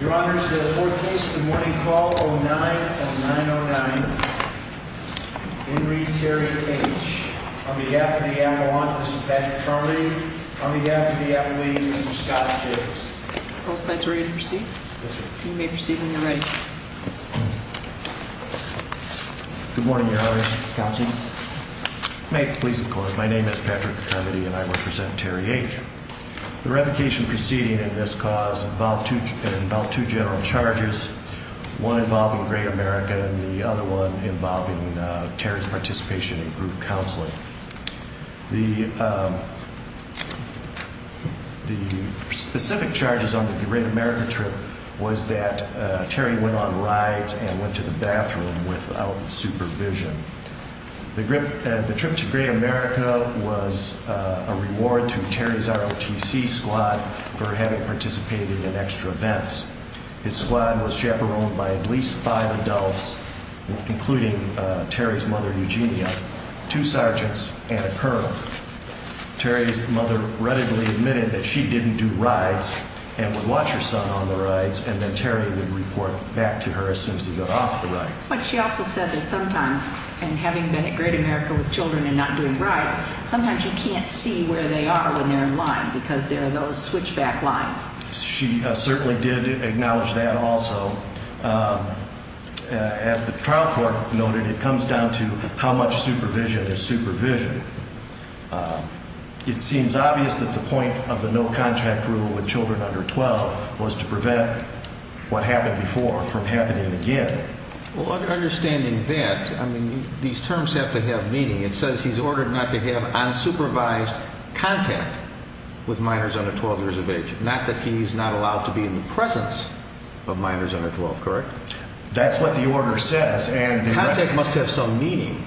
Your Honor, the fourth case in the morning call 09 and 909. Henry Terry H. On behalf of the Avalon, Mr Patrick Charmody. On behalf of the Appalachian, Mr Scott Jacobs. Both sides are ready to proceed. You may proceed when you're ready. Good morning, Your Honor. Counsel may please. Of course, my name is Patrick Charmody and I represent Terry H. The revocation proceeding in this cause involved about two general charges, one involving Great America and the other one involving Terry's participation in group counseling. The the specific charges on the Great America trip was that Terry went on rides and went to the bathroom without supervision. The trip to Great America was a reward to Terry's ROTC squad for having participated in extra events. His squad was chaperoned by at least five adults, including Terry's mother, Eugenia, two sergeants and a curl. Terry's mother readily admitted that she didn't do rides and would watch her son on the rides. And then Terry would report back to her as soon as he got off the right. But she also said that sometimes and having been at Great America with Children and not doing rides, sometimes you can't see where they are when they're in line because there are those switchback lines. She certainly did acknowledge that. Also, as the trial court noted, it comes down to how much supervision is supervision. It seems obvious that the point of the no contract rule with Children under 12 was to prevent what happened before from happening again. Understanding that, I mean, these terms have to have meaning. It says he's ordered not to have unsupervised contact with minors under 12 years of age. Not that he's not allowed to be in the presence of minors under 12. Correct. That's what the order says. And contact must have some meaning.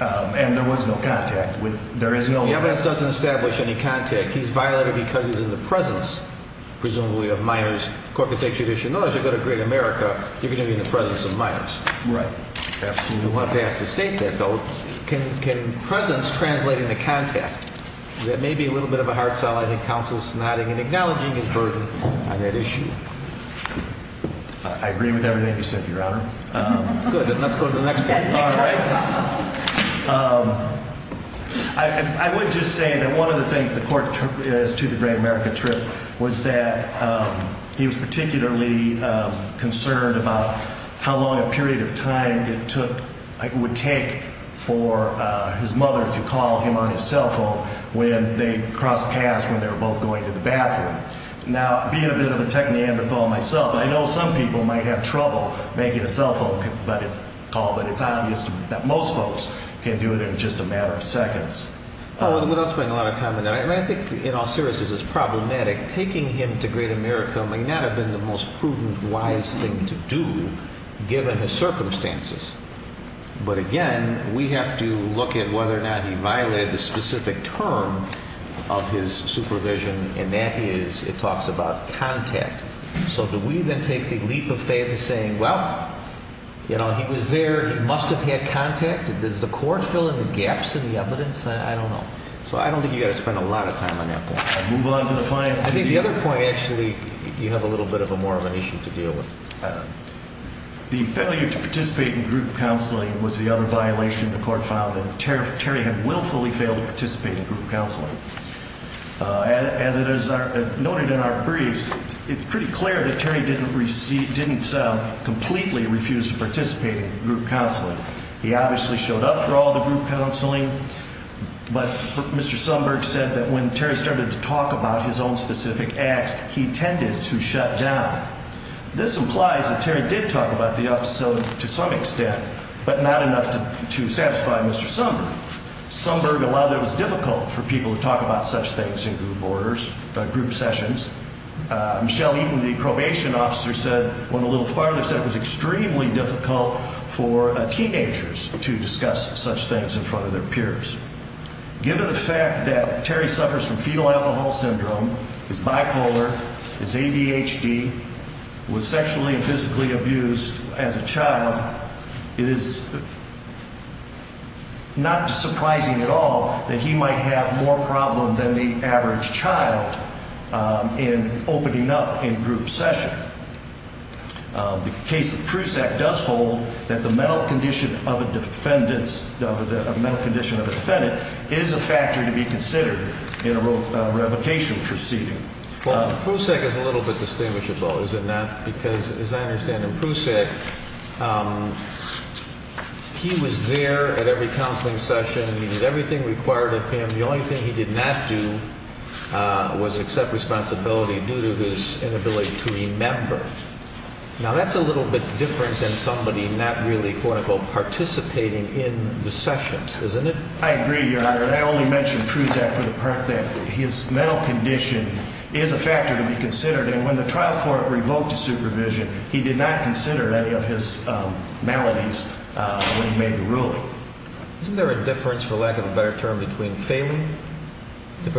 And there was no contact with there is no evidence doesn't establish any contact. He's violated because he's in the presence, presumably of minors. Court to take judicial knowledge. You go to Great America. You're gonna be in the presence of minors. Right? Absolutely. Want to ask to state that though. Can can presence translating the contact? That may be a little bit of a hard sell. I think counsel's nodding and acknowledging his burden on that issue. I agree with everything you said, Your Honor. Good. Let's go to the next. Um, I would just say that one of the things the court is to the Great America trip was that he was particularly concerned about how long a period of time it took would take for his mother to call him on his cell phone when they crossed paths when they were both going to the bathroom. Now, being a bit of a tech Neanderthal myself, I know some people might have trouble making a cell phone call, but it's obvious that most folks can do it in just a matter of seconds without spending a lot of time. And I think in all seriousness is problematic. Taking him to Great America may not have been the most prudent, wise thing to do given the circumstances. But again, we have to look at whether or not he violated the specific term of his supervision, and that is it talks about contact. So do we then take the leap of faith saying, Well, you know, he was there. He must have had contacted. Does the court fill in the gaps in the evidence? I don't know. So I don't think you spent a lot of time on that point. Move on to the final. The other point. Actually, you have a little bit of a more of an issue to deal with. The failure to participate in group counseling was the other violation. The court found that Terry had willfully failed to participate in group counseling. As it is noted in our briefs, it's pretty clear that Terry didn't receive didn't completely refused to participate in group counseling. He obviously showed up for all the group counseling. But Mr. Somburg said that when Terry started to talk about his own specific acts, he tended to shut down. This implies that Terry did talk about the episode to some extent, but not enough to satisfy Mr. Somburg. Somburg allowed. It was difficult for people to talk about such things in group orders, group sessions. Michelle Eaton, the probation officer, said when a little farther said it was extremely difficult for teenagers to discuss such things in front of their peers. Given the fact that Terry suffers from fetal alcohol syndrome, his bipolar, his ADHD, was sexually and physically abused as a child, it is not surprising at all that he might have more problem than the average child in opening up in group session. The case of Prusak does hold that the mental condition of a defendant is a factor to be considered in a revocation proceeding. Well, Prusak is a little bit distinguishable, is it not? Because as I understand it, Prusak, he was there at every counseling session. He did everything required of him. The only thing he did not do was accept responsibility due to his inability to remember. Now, that's a little bit different than somebody not really, quote unquote, participating in the sessions, isn't it? I agree, Your Honor. I only mentioned Prusak for the part that his mental condition is a factor to be considered. And when the trial court revoked supervision, he did not consider any of his maladies when he made the ruling. Isn't there a difference, for lack of a better term, between failing to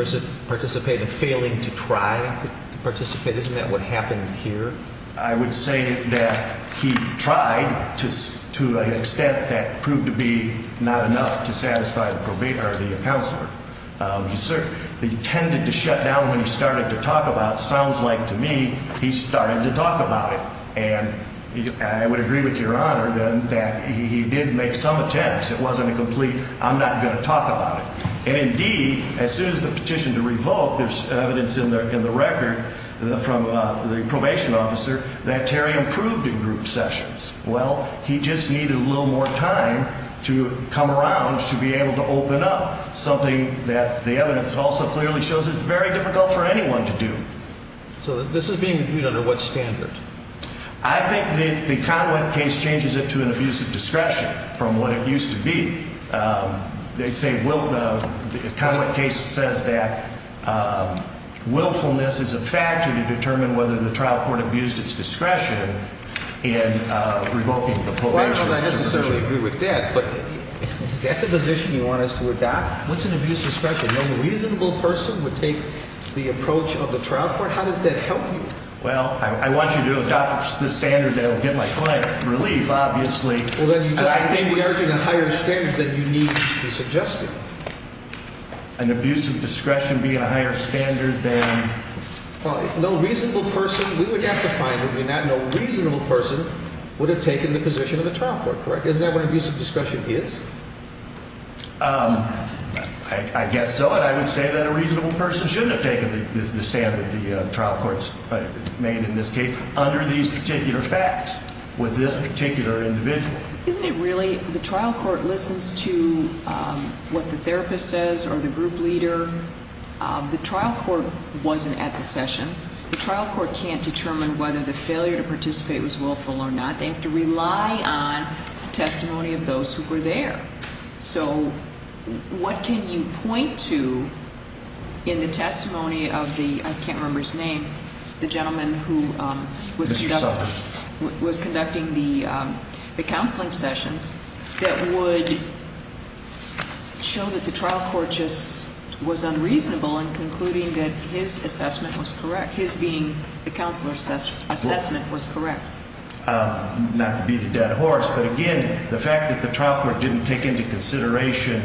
participate and failing to try to participate? Isn't that what happened here? I would say that he tried to an extent that proved to be not enough to satisfy the probate or the counselor. He tended to shut down when he started to talk about, sounds like to me, he started to talk about it. And I would agree with Your Honor that he did make some attempts. It wasn't a complete, I'm not going to talk about it. And indeed, as soon as the petition to revoke, there's evidence in the record from the probation officer that Terry improved in group sessions. Well, he just needed a little more time to come around to be able to open up, something that the evidence also clearly shows is very difficult for anyone to do. So this is being reviewed under what standard? I think the Conway case changes it to an abuse of discretion from what it looks like. So I think that the willfulness is a factor to determine whether the trial court abused its discretion in revoking the probation. Well, I don't necessarily agree with that, but is that the position you want us to adopt? What's an abuse of discretion? No reasonable person would take the approach of the trial court? How does that help you? Well, I want you to adopt the standard that will get my client relief, obviously. Well, then you just may be urging a higher standard than you need to be suggested. An abuse of discretion being a higher standard than? No reasonable person, we would have to find who may not. No reasonable person would have taken the position of the trial court, correct? Isn't that what abuse of discretion is? I guess so. And I would say that a reasonable person shouldn't have taken the standard the trial courts made in this case under these particular facts with this particular individual. Isn't it really the trial court listens to what the therapist says or the group leader? The trial court wasn't at the sessions. The trial court can't determine whether the failure to participate was willful or not. They have to rely on the testimony of those who were there. So what can you point to in the testimony of the, I can't remember his name, the gentleman who was conducting the counseling sessions that would show that the trial court just was unreasonable in concluding that his assessment was correct, his being the counselor assessment was correct. Not to beat a dead horse, but again, the fact that the trial court didn't take into consideration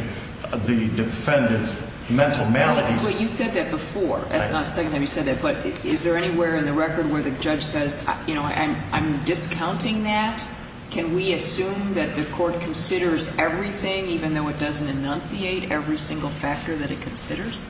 the defendant's mental malady. You said that before. That's not the second time you said that. But is there anywhere in the record where the judge says, you know, I'm discounting that? Can we assume that the court considers everything even though it doesn't enunciate every single factor that it considers?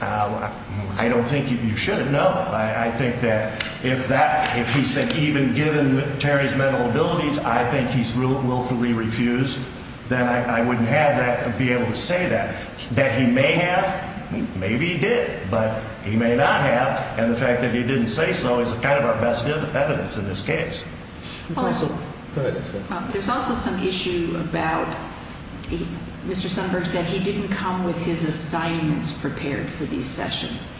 I don't think you should have. No, I think that if that if he said even given Terry's mental abilities, I think he's willfully refused that I wouldn't have that be able to say that that he may have. Maybe he did, but he may not have. And the fact that he didn't say so is kind of our evidence in this case. There's also some issue about Mr. Sundberg said he didn't come with his assignments prepared for these sessions.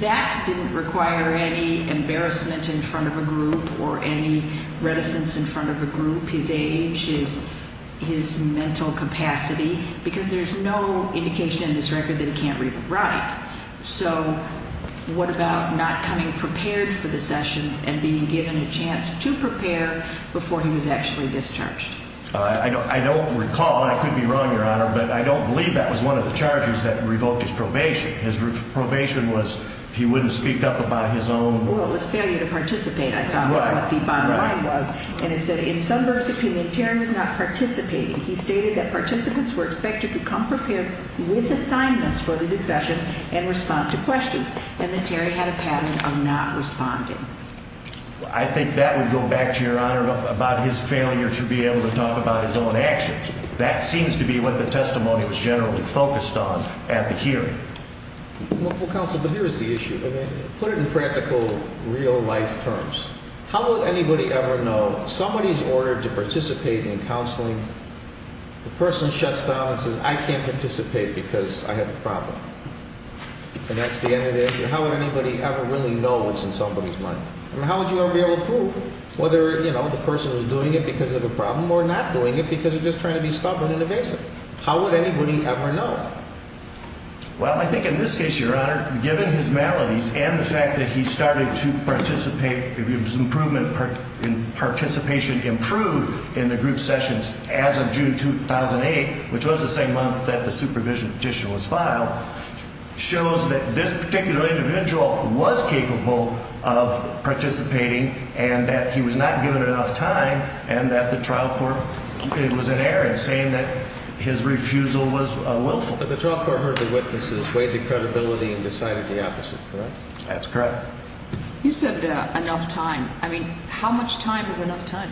That didn't require any embarrassment in front of a group or any reticence in front of a group. His age is his mental capacity because there's no indication in this record that he can't read right. So what about not coming prepared for the sessions and being given a chance to prepare before he was actually discharged? I don't recall. I could be wrong, Your Honor, but I don't believe that was one of the charges that revoked his probation. His probation was he wouldn't speak up about his own. Well, it was failure to participate. I thought the bottom line was and it said in some verse of humanitarian was not participating. He stated that participants were expected to come prepared with assignments for the discussion and respond to responding. I think that would go back to your honor about his failure to be able to talk about his own actions. That seems to be what the testimony was generally focused on at the hearing council. But here is the issue. Put it in practical real life terms. How would anybody ever know somebody is ordered to participate in counseling? The person shuts down and says, I can't participate because I have a problem. And that's the end of it. How would anybody ever really know what's in somebody's mind? And how would you ever be able to prove whether, you know, the person was doing it because of a problem or not doing it because of just trying to be stubborn and invasive? How would anybody ever know? Well, I think in this case, Your Honor, given his maladies and the fact that he started to participate improvement participation improved in the group sessions as of June 2008, which was the same month that the supervision petition was filed, shows that this particular individual was capable of participating and that he was not given enough time and that the trial court was in error and saying that his refusal was willful. But the trial court heard the witnesses, weighed the credibility and decided the opposite. That's correct. You said enough time. I mean, how much time is enough time?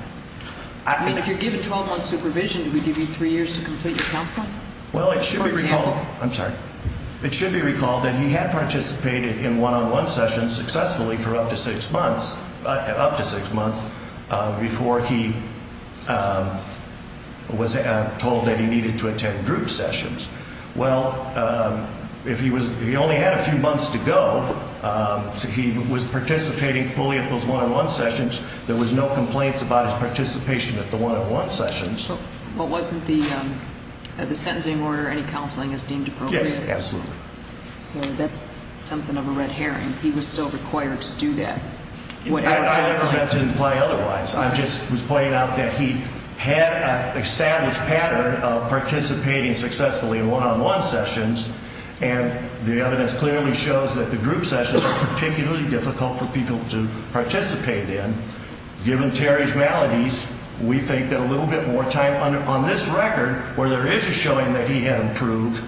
I mean, if you're given 12 months supervision, we give you three years to complete your counsel. Well, it should be I'm sorry. It should be recalled that he had participated in one on one sessions successfully for up to six months, up to six months before he was told that he needed to attend group sessions. Well, if he was, he only had a few months to go. So he was participating fully at those one on one sessions. There was no complaints about his participation at the one on one sessions. What wasn't the the sentencing order? Any counseling is deemed appropriate. Absolutely. So that's something of a red herring. He was still required to do that. I never meant to imply otherwise. I just was pointing out that he had established pattern of participating successfully in one on one sessions, and the evidence clearly shows that the group sessions are particularly difficult for people to participate in. Given Terry's we think that a little bit more time on this record where there is a showing that he had improved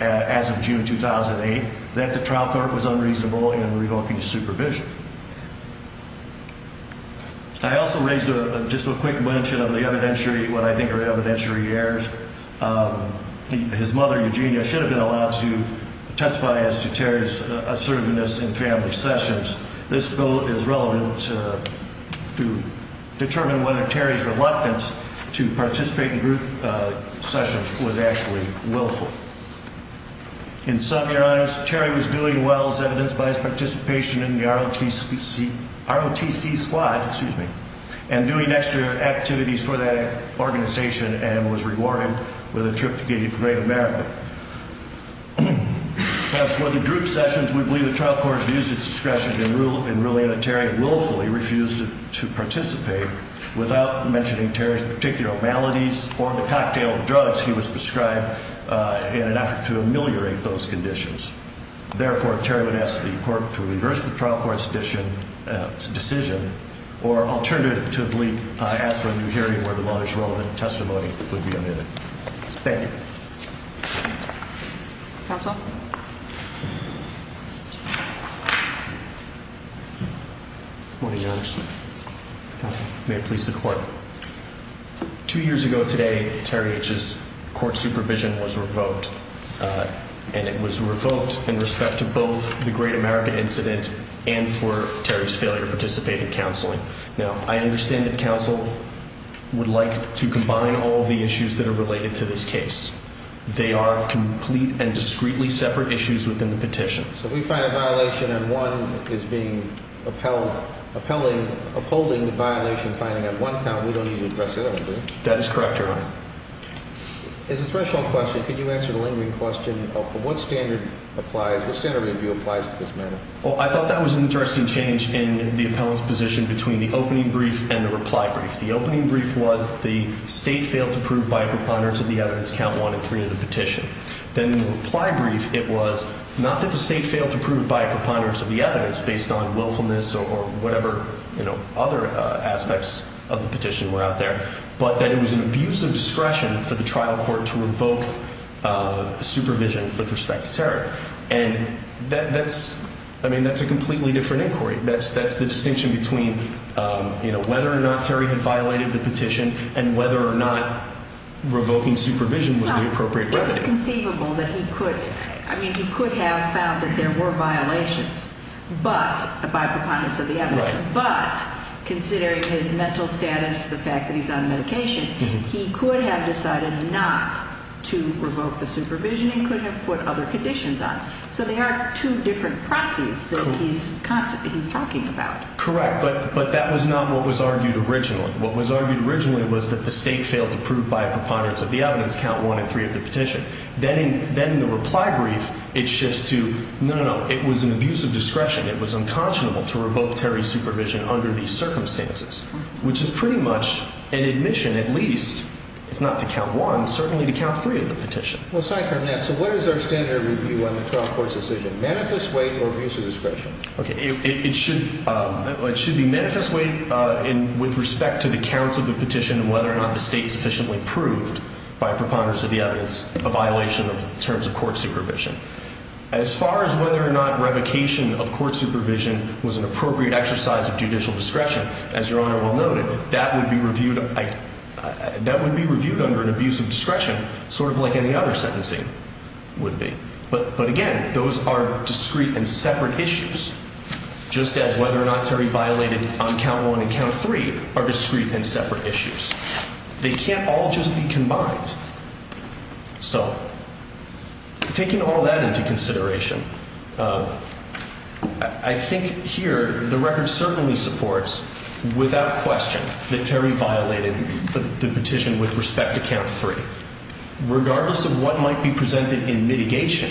as of June 2008 that the trial court was unreasonable and revoking his supervision. I also raised just a quick mention of the evidentiary what I think are evidentiary errors. His mother, Eugenia, should have been allowed to testify as to Terry's assertiveness in family sessions. This bill is relevant to determine whether Terry's reluctance to participate in group sessions was actually willful. In some, your honors, Terry was doing well as evidenced by his participation in the ROTC squad, excuse me, and doing extra activities for that organization and was rewarded with a trip to Great America. As for the group sessions, we believe the trial court abused its discretion in ruling that Terry willfully refused to participate without mentioning Terry's particular maladies or the cocktail of drugs he was prescribed in an effort to ameliorate those conditions. Therefore, Terry would ask the court to reverse the trial court's decision or alternatively ask for a new hearing where the law is relevant and testimony would be omitted. Thank you. Counsel? Good morning, your honors. May I please the court? Two years ago today, Terry H's court supervision was revoked and it was revoked in respect to both the Great America incident and for Terry's failure to participate in counseling. Now, I understand that counsel would like to combine all the issues that are related to this case. They are complete and discreetly separate issues within the petition. So we find a violation and one is being upheld, upholding the violation finding at one count. We don't need to address it. That is correct. Your honor is a threshold question. Could you answer the lingering question of what standard applies? What standard review applies to this matter? Well, I thought that was an interesting change in the appellant's position between the opening brief and the reply brief. The opening brief was the state failed to prove by preponderance of the evidence count one and three of the petition. Then reply brief. It was not that the state failed to prove by preponderance of the evidence based on willfulness or whatever, you know, other aspects of the petition were out there, but that it was an abuse of discretion for the trial court to revoke supervision with respect to Terry. And that's, I mean, that's a completely different inquiry. That's that's the distinction between, you know, whether or not Terry had violated the petition and whether or not revoking supervision was the appropriate remedy. It's conceivable that he could, I mean, he could have found that there were violations, but by preponderance of the evidence, but considering his mental status, the fact that he's on medication, he could have decided not to revoke the supervision and could have put other conditions on. So they are two different processes that he's talking about. Correct. But, but that was not what was argued originally. What was argued originally was that the state failed to prove by preponderance of the evidence count one and three of the petition. Then, then the reply brief, it shifts to no, no, no, it was an abuse of discretion. It was unconscionable to revoke Terry supervision under these circumstances, which is pretty much an admission, at least if not to count one, certainly to count three of the petition. So what is our standard review on the trial court's decision? Manifest weight or abuse of discretion? Okay. It should, it should be manifest weight in with respect to the counts of the petition and whether or not the preponderance of the evidence, a violation of terms of court supervision as far as whether or not revocation of court supervision was an appropriate exercise of judicial discretion. As your honor will note it, that would be reviewed. That would be reviewed under an abuse of discretion, sort of like any other sentencing would be. But, but again, those are discrete and separate issues, just as whether or not Terry violated on count one and count three are discrete and separate issues. They can't all just be combined. So taking all that into consideration, I think here the record certainly supports without question that Terry violated the petition with respect to count three, regardless of what might be presented in mitigation,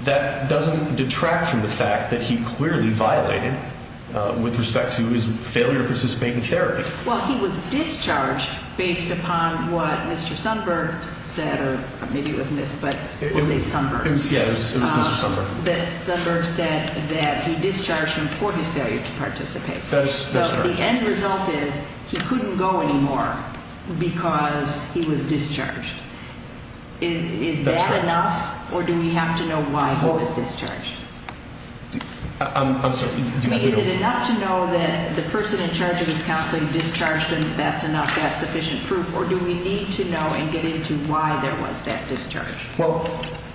that doesn't detract from the fact that he clearly violated with respect to his failure to participate in therapy. Well, he was discharged based upon what Mr. Sundberg said, or maybe it was missed, but we'll say Sundberg. Yeah, it was Mr. Sundberg. That Sundberg said that he discharged him for his failure to participate. So the end result is he couldn't go anymore because he was discharged. Is that enough or do we have to know why he was discharged? I'm sorry. Is it enough to know that the person in charge of this counseling discharged and that's enough? That's sufficient proof? Or do we need to know and get into why there was that discharge? Well,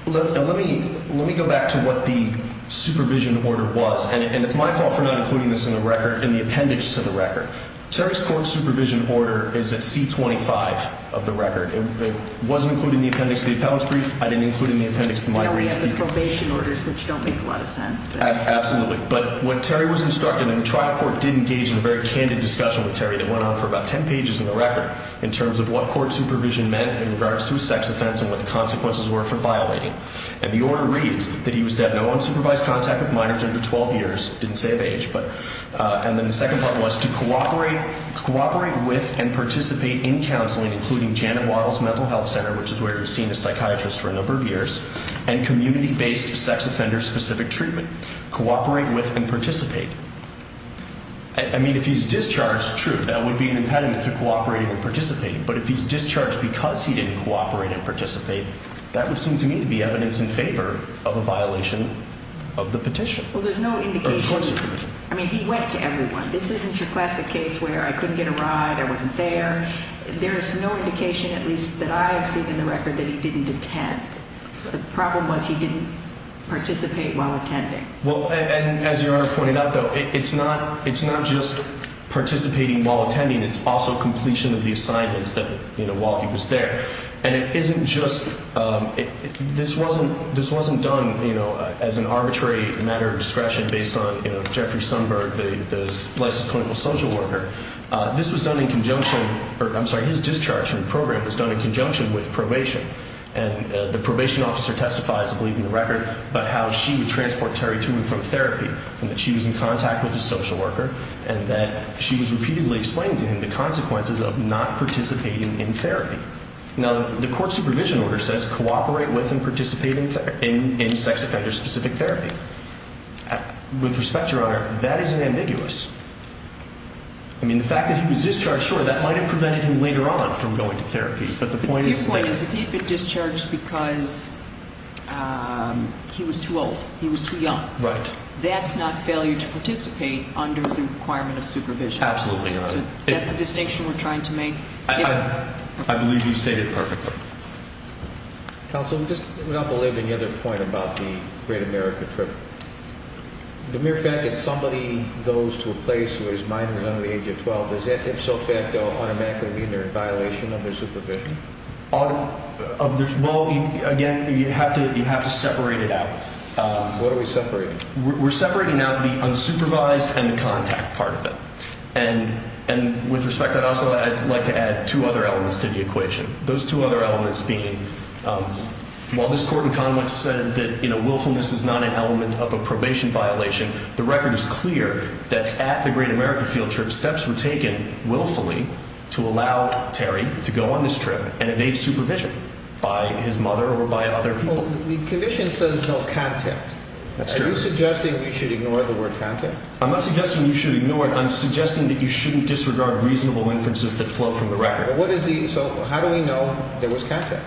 let me let me go back to what the supervision order was. And it's my fault for not including this in the record in the appendix to the record. Terry's court supervision order is at C 25 of the record. It wasn't included in the appendix of the appellant's brief. I didn't include in the appendix to my probation orders which don't make a lot of sense. Absolutely. But what Terry was instructed in the trial court did engage in a very candid discussion with Terry that went on for about 10 pages in the record in terms of what court supervision meant in regards to sex offense and what the consequences were for violating. And the order reads that he was that no unsupervised contact with minors under 12 years didn't save age. But on the second part was to cooperate, cooperate with and participate in counseling, including Janet Wattles Mental Health Center, which is where you've seen a psychiatrist for a number of years and community based sex offender specific treatment cooperate with and participate. I mean, if he's discharged true, that would be an impediment to cooperate and participate. But if he's discharged because he didn't cooperate and participate, that would seem to me to be evidence in favor of a violation of the petition. Well, there's no indication. I mean, he went to everyone. This isn't your classic case where I couldn't get a ride. I wasn't there. There's no indication, at least I have seen in the record that he didn't attend. The problem was he didn't participate while attending. Well, and as you are pointing out, though, it's not. It's not just participating while attending. It's also completion of the assignments that you know while he was there. And it isn't just this wasn't. This wasn't done, you know, as an arbitrary matter of discretion based on Jeffrey Sundberg, the less clinical social worker. This was done in conjunction. I'm sorry. His discharge from the program was done in conjunction with probation, and the probation officer testifies, I believe in the record, but how she would transport Terry to and from therapy and that she was in contact with the social worker and that she was repeatedly explained to him the consequences of not participating in therapy. Now, the court supervision order says cooperate with and participate in sex offender specific therapy. With respect, Your Honor, that isn't ambiguous. I mean, the fact that he was discharged sure that prevented him later on from going to therapy. But the point is, if you could discharge because he was too old, he was too young, right? That's not failure to participate under the requirement of supervision. Absolutely. That's the distinction we're trying to make. I believe you say it perfectly. Counselor, just without believing the other point about the Great America trip, the mere fact that somebody goes to a place where his so facto automatically mean they're in violation of their supervision of this. Well, again, you have to have to separate it out. What are we separating? We're separating out the unsupervised and the contact part of it. And and with respect, I'd also like to add two other elements to the equation. Those two other elements being while this court in Congress said that willfulness is not an element of a probation violation, the record is clear that at the Great America field trip steps were taken willfully to allow Terry to go on this trip and evade supervision by his mother or by other people. The commission says no contact. That's true. Suggesting you should ignore the word content. I'm not suggesting you should ignore it. I'm suggesting that you shouldn't disregard reasonable inferences that flow from the record. What is the So how do we know there was contact?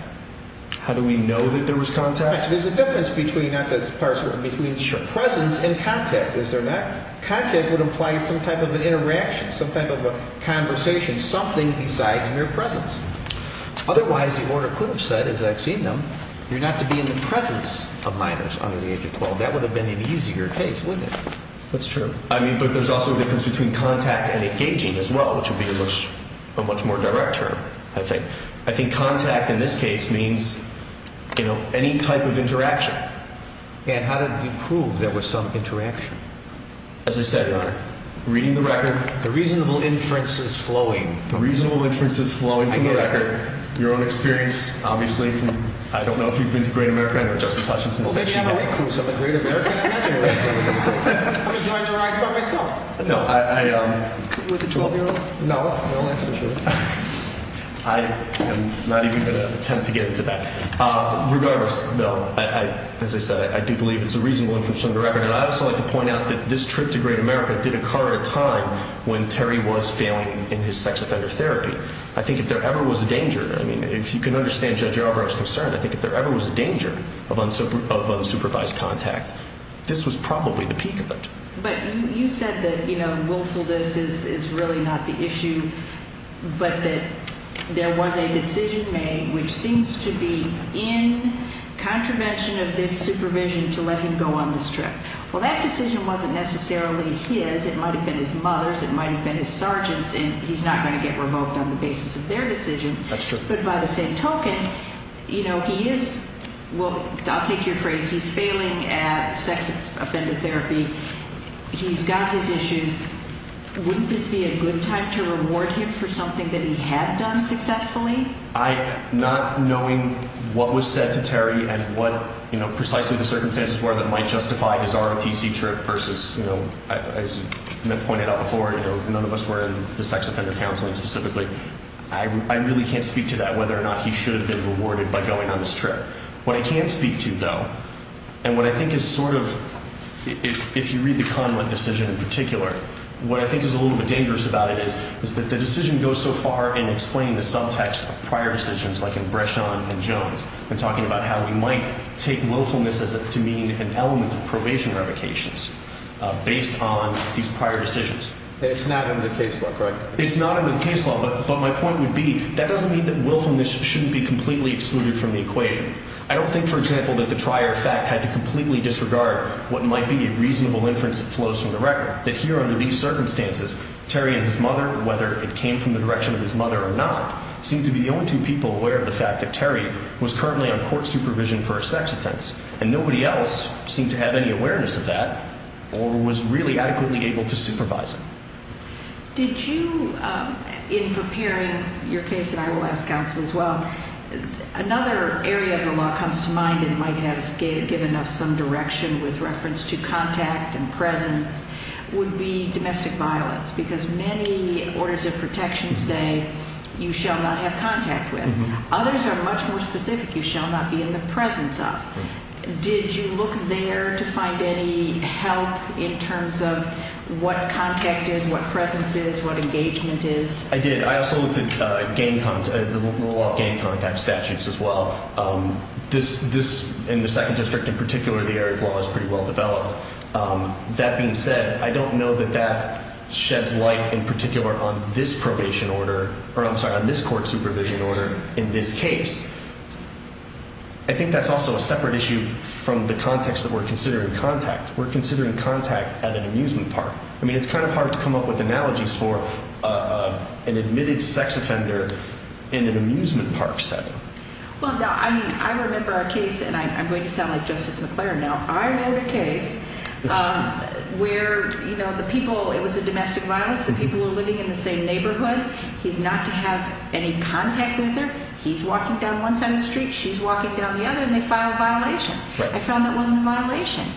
How do we know that there was contact? There's a difference between not the parser between presence and contact. Is there not? Contact would imply some type of an interaction, some type of a conversation, something besides mere presence. Otherwise, the order could have said, as I've seen them, you're not to be in the presence of minors under the age of 12. That would have been an easier case with it. That's true. I mean, but there's also a difference between contact and engaging as well, which would be a much a much more direct term. I think I think contact in this case means, you know, any type of interaction. And how did you prove there was some interaction? As I said, reading the record, the reasonable inferences flowing, the reasonable inferences flowing from the record, your own experience. Obviously, I don't know if you've been to Great American or Justice Hutchinson. Since they don't have any clues of the Great American. I'm enjoying the rides by myself. No, I with a 12 year old. No, I am not even going to attempt to get into that. Regardless, though, as I said, I do believe it's a reasonable inference on the record. And I also like to point out that this trip to Great America did occur at a time when Terry was failing in his sex offender therapy. I think if there ever was a danger, I mean, if you can understand Judge Albright's concern, I think if there ever was a danger of unsupervised contact, this was probably the peak of it. But you said that, you know, willfulness is really not the issue, but that there was a decision made which seems to be in contravention of his supervision to let him go on this trip. Well, that decision wasn't necessarily his. It might have been his mother's. It might have been his sergeants, and he's not going to get revoked on the basis of their decision. But by the same token, you know, he is. Well, I'll take your phrase. He's failing at sex offender therapy. He's got his issues. Wouldn't this be a good time to reward him for something that he had done successfully? Not knowing what was said to Terry and what, you know, precisely the circumstances were that might justify his ROTC trip versus, you know, as pointed out before, you know, none of us were in the sex offender counseling specifically. I really can't speak to that, whether or not he should have been rewarded by going on this trip. What I can speak to, though, and what I think is sort of, if you read the Conlon decision in particular, what I think is a little bit dangerous about it is that the subtext of prior decisions like in Brechon and Jones and talking about how we might take willfulness as to mean an element of probation revocations based on these prior decisions. It's not in the case law, correct? It's not in the case law, but my point would be that doesn't mean that willfulness shouldn't be completely excluded from the equation. I don't think, for example, that the trier fact had to completely disregard what might be a reasonable inference that flows from the record, that here under these circumstances, Terry and his mother, whether it came from the direction of his mother or not, seem to be the only two people aware of the fact that Terry was currently on court supervision for a sex offense, and nobody else seemed to have any awareness of that or was really adequately able to supervise him. Did you, in preparing your case, and I will ask counsel as well, another area of the law comes to mind and might have given us some direction with reference to contact and presence would be domestic violence because many orders of protection say you shall not have contact with. Others are much more specific. You shall not be in the presence of. Did you look there to find any help in terms of what contact is, what presence is, what engagement is? I did. I also looked at gang contact, the law of gang contact statutes as well. This, in the second district in particular, the area of law is pretty well developed. That being said, I don't know that that sheds light in particular on this probation order, or I'm sorry, on this court supervision order. In this case, I think that's also a separate issue from the context that we're considering contact. We're considering contact at an amusement park. I mean, it's kind of hard to come up with analogies for an admitted sex offender in an amusement park setting. Well, I mean, I remember a case, and I'm going to sound like Justice McClaren now. I had a case where, you know, the people, it was a domestic violence. The people were living in the same neighborhood. He's not to have any contact with her. He's walking down one side of the street. She's walking down the other, and they filed a violation. I found that wasn't a violation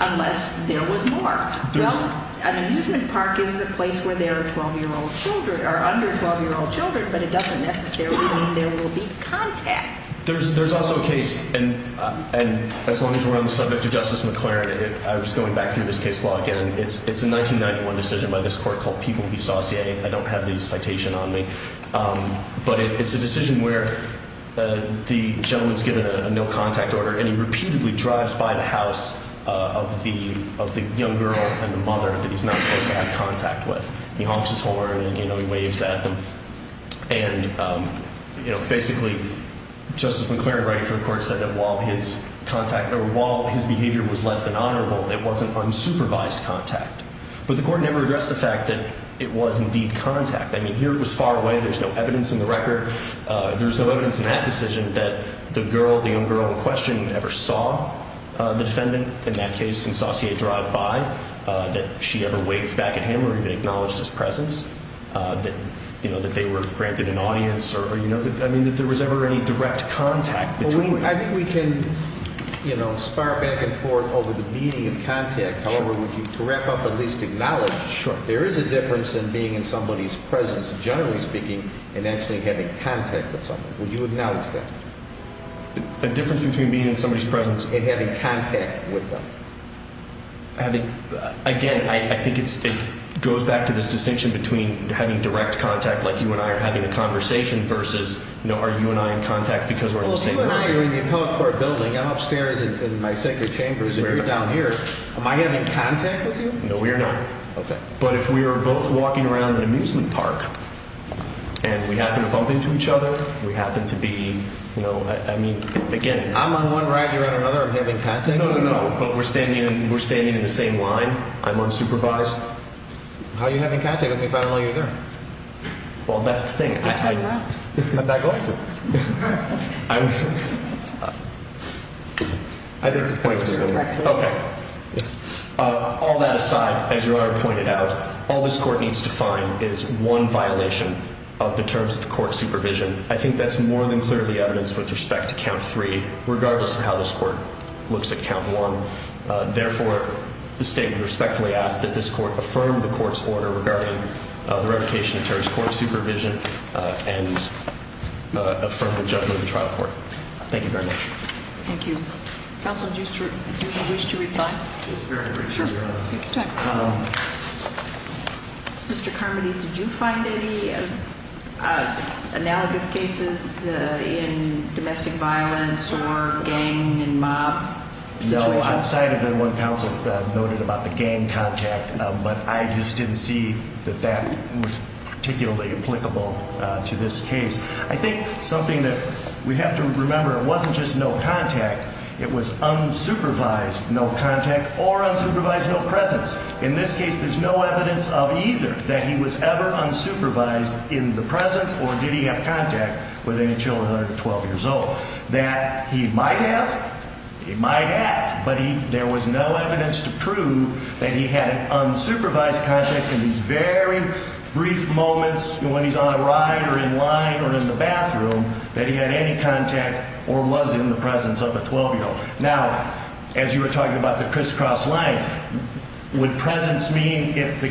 unless there was more. Well, an amusement park is a place where there are 12-year-old children, or under 12-year-old children, but it doesn't necessarily mean there will be contact. There's also a case, and as long as we're on the subject of Justice McClaren, and I was going back through this case law again, it's a 1991 decision by this court called People v. Saucier. I don't have the citation on me, but it's a decision where the gentleman's given a no contact order, and he repeatedly drives by the house of the young girl and the mother that he's not supposed to have contact with. He honks his horn, and, you know, he waves at them, and, you know, basically, Justice McClaren writing for the court said that while his behavior was less than honorable, it wasn't unsupervised contact. But the court never addressed the fact that it was indeed contact. I mean, here it was far away. There's no evidence in the record. There's no evidence in that decision that the girl, the young girl in question, ever saw the defendant. In that case, since Saucier drove by, that she ever waved back at him or even acknowledged his presence, that, you know, that they were granted an audience, or, you know, I mean, that there was ever any direct contact between them. I think we can, you know, spar back and forth over the meaning of contact. However, would you, to wrap up, at least acknowledge, there is a difference in being in somebody's presence, generally speaking, and actually having contact with somebody. Would you acknowledge that? The difference between being in somebody's presence and having contact with them. Having, again, I think it goes back to this distinction between having direct contact, like you and I are having a conversation, versus, you and I in contact because we're in the same room. Well, you and I are in the appellate court building. I'm upstairs in my sacred chambers, and you're down here. Am I having contact with you? No, we are not. Okay. But if we are both walking around an amusement park, and we happen to bump into each other, we happen to be, you know, I mean, again. I'm on one ride, you're on another. I'm having contact? No, no, no. But we're standing in the same line. I'm unsupervised. How are you having contact with me if I don't know you're there? Well, that's the thing. Can I go? Can I go? I think the point is, okay, all that aside, as you already pointed out, all this court needs to find is one violation of the terms of the court supervision. I think that's more than clearly evidenced with respect to count three, regardless of how this court looks at count one. Therefore, the state would respectfully ask that this court affirm the judgment of the trial court. Thank you very much. Thank you. Counsel, do you wish to reply? Just very briefly, Your Honor. Take your time. Mr. Carmody, did you find any analogous cases in domestic violence or gang and mob situations? No, outside of it, one counsel noted about the gang contact, but I just didn't see that that was particularly applicable to this case. I think something that we have to remember, it wasn't just no contact. It was unsupervised no contact or unsupervised no presence. In this case, there's no evidence of either that he was ever unsupervised in the presence or did he have contact with any children under 12 years old. That he might have, he might have, but there was no evidence to prove that he had unsupervised contact in these very brief moments when he's on a ride or in line or in the bathroom that he had any contact or was in the presence of a 12-year-old. Now, as you were talking about the crisscross lines, would presence mean if the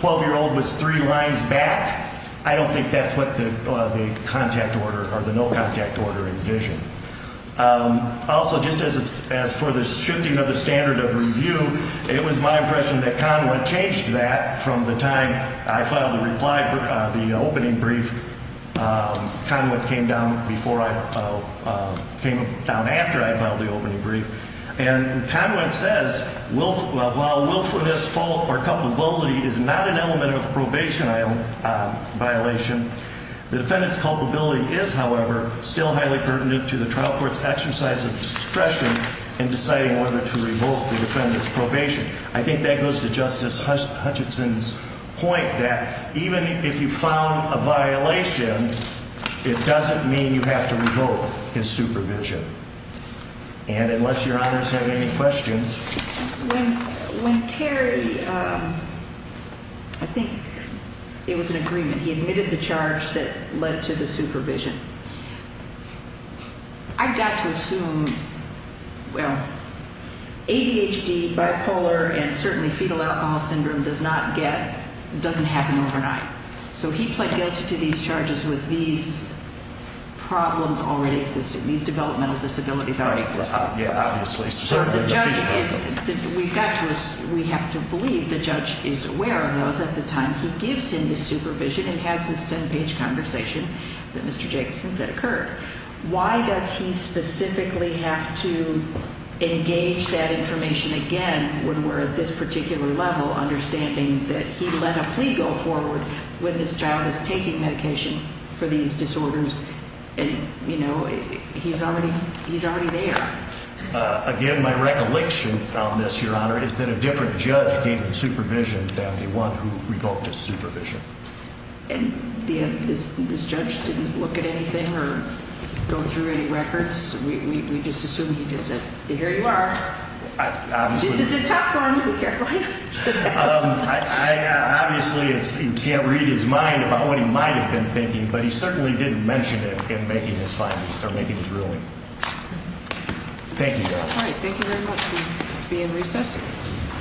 12-year-old was three lines back? I don't think that's what the contact order or the no contact order envisioned. Also, just as for the shifting of the standard of review, it was my impression that Conwent changed that from the time I filed the reply, the opening brief. Conwent came down before I, came down after I filed the opening brief. And Conwent says, while willfulness, fault, or culpability is not an element of probation violation, the defendant's culpability is, however, still highly pertinent to the trial court's exercise of discretion in deciding whether to revoke the defendant's probation. I think that goes to Justice Hutchinson's point that even if you found a violation, it doesn't mean you have to revoke his supervision. And unless your honors have any questions. When Terry, I think it was an agreement. He admitted the charge that led to the supervision. I've got to assume, well, ADHD, bipolar, and certainly fetal alcohol syndrome does not get, doesn't happen overnight. So he pled guilty to these charges with these problems already existing, these developmental disabilities already existing. Yeah, obviously. So the judge, we've got to, we have to believe the judge is aware of those at the time he gives him the supervision and has this 10-page conversation that Mr. Jacobson said occurred. Why does he specifically have to engage that information again when we're at this particular level, understanding that he let a plea go forward when this child is taking medication for these disorders and, you know, he's already, he's already there. Again, my recollection on this, your honor, is that a different judge gave him supervision than the one who revoked his supervision. And this judge didn't look at anything or go through any records? We just assume he just said, here you are. Obviously. This is a tough one here, right? I obviously can't read his mind about what he might have been thinking, but he certainly didn't mention it in making his findings or making his ruling. Thank you, your honor. All right, thank you very much. We'll be in recess.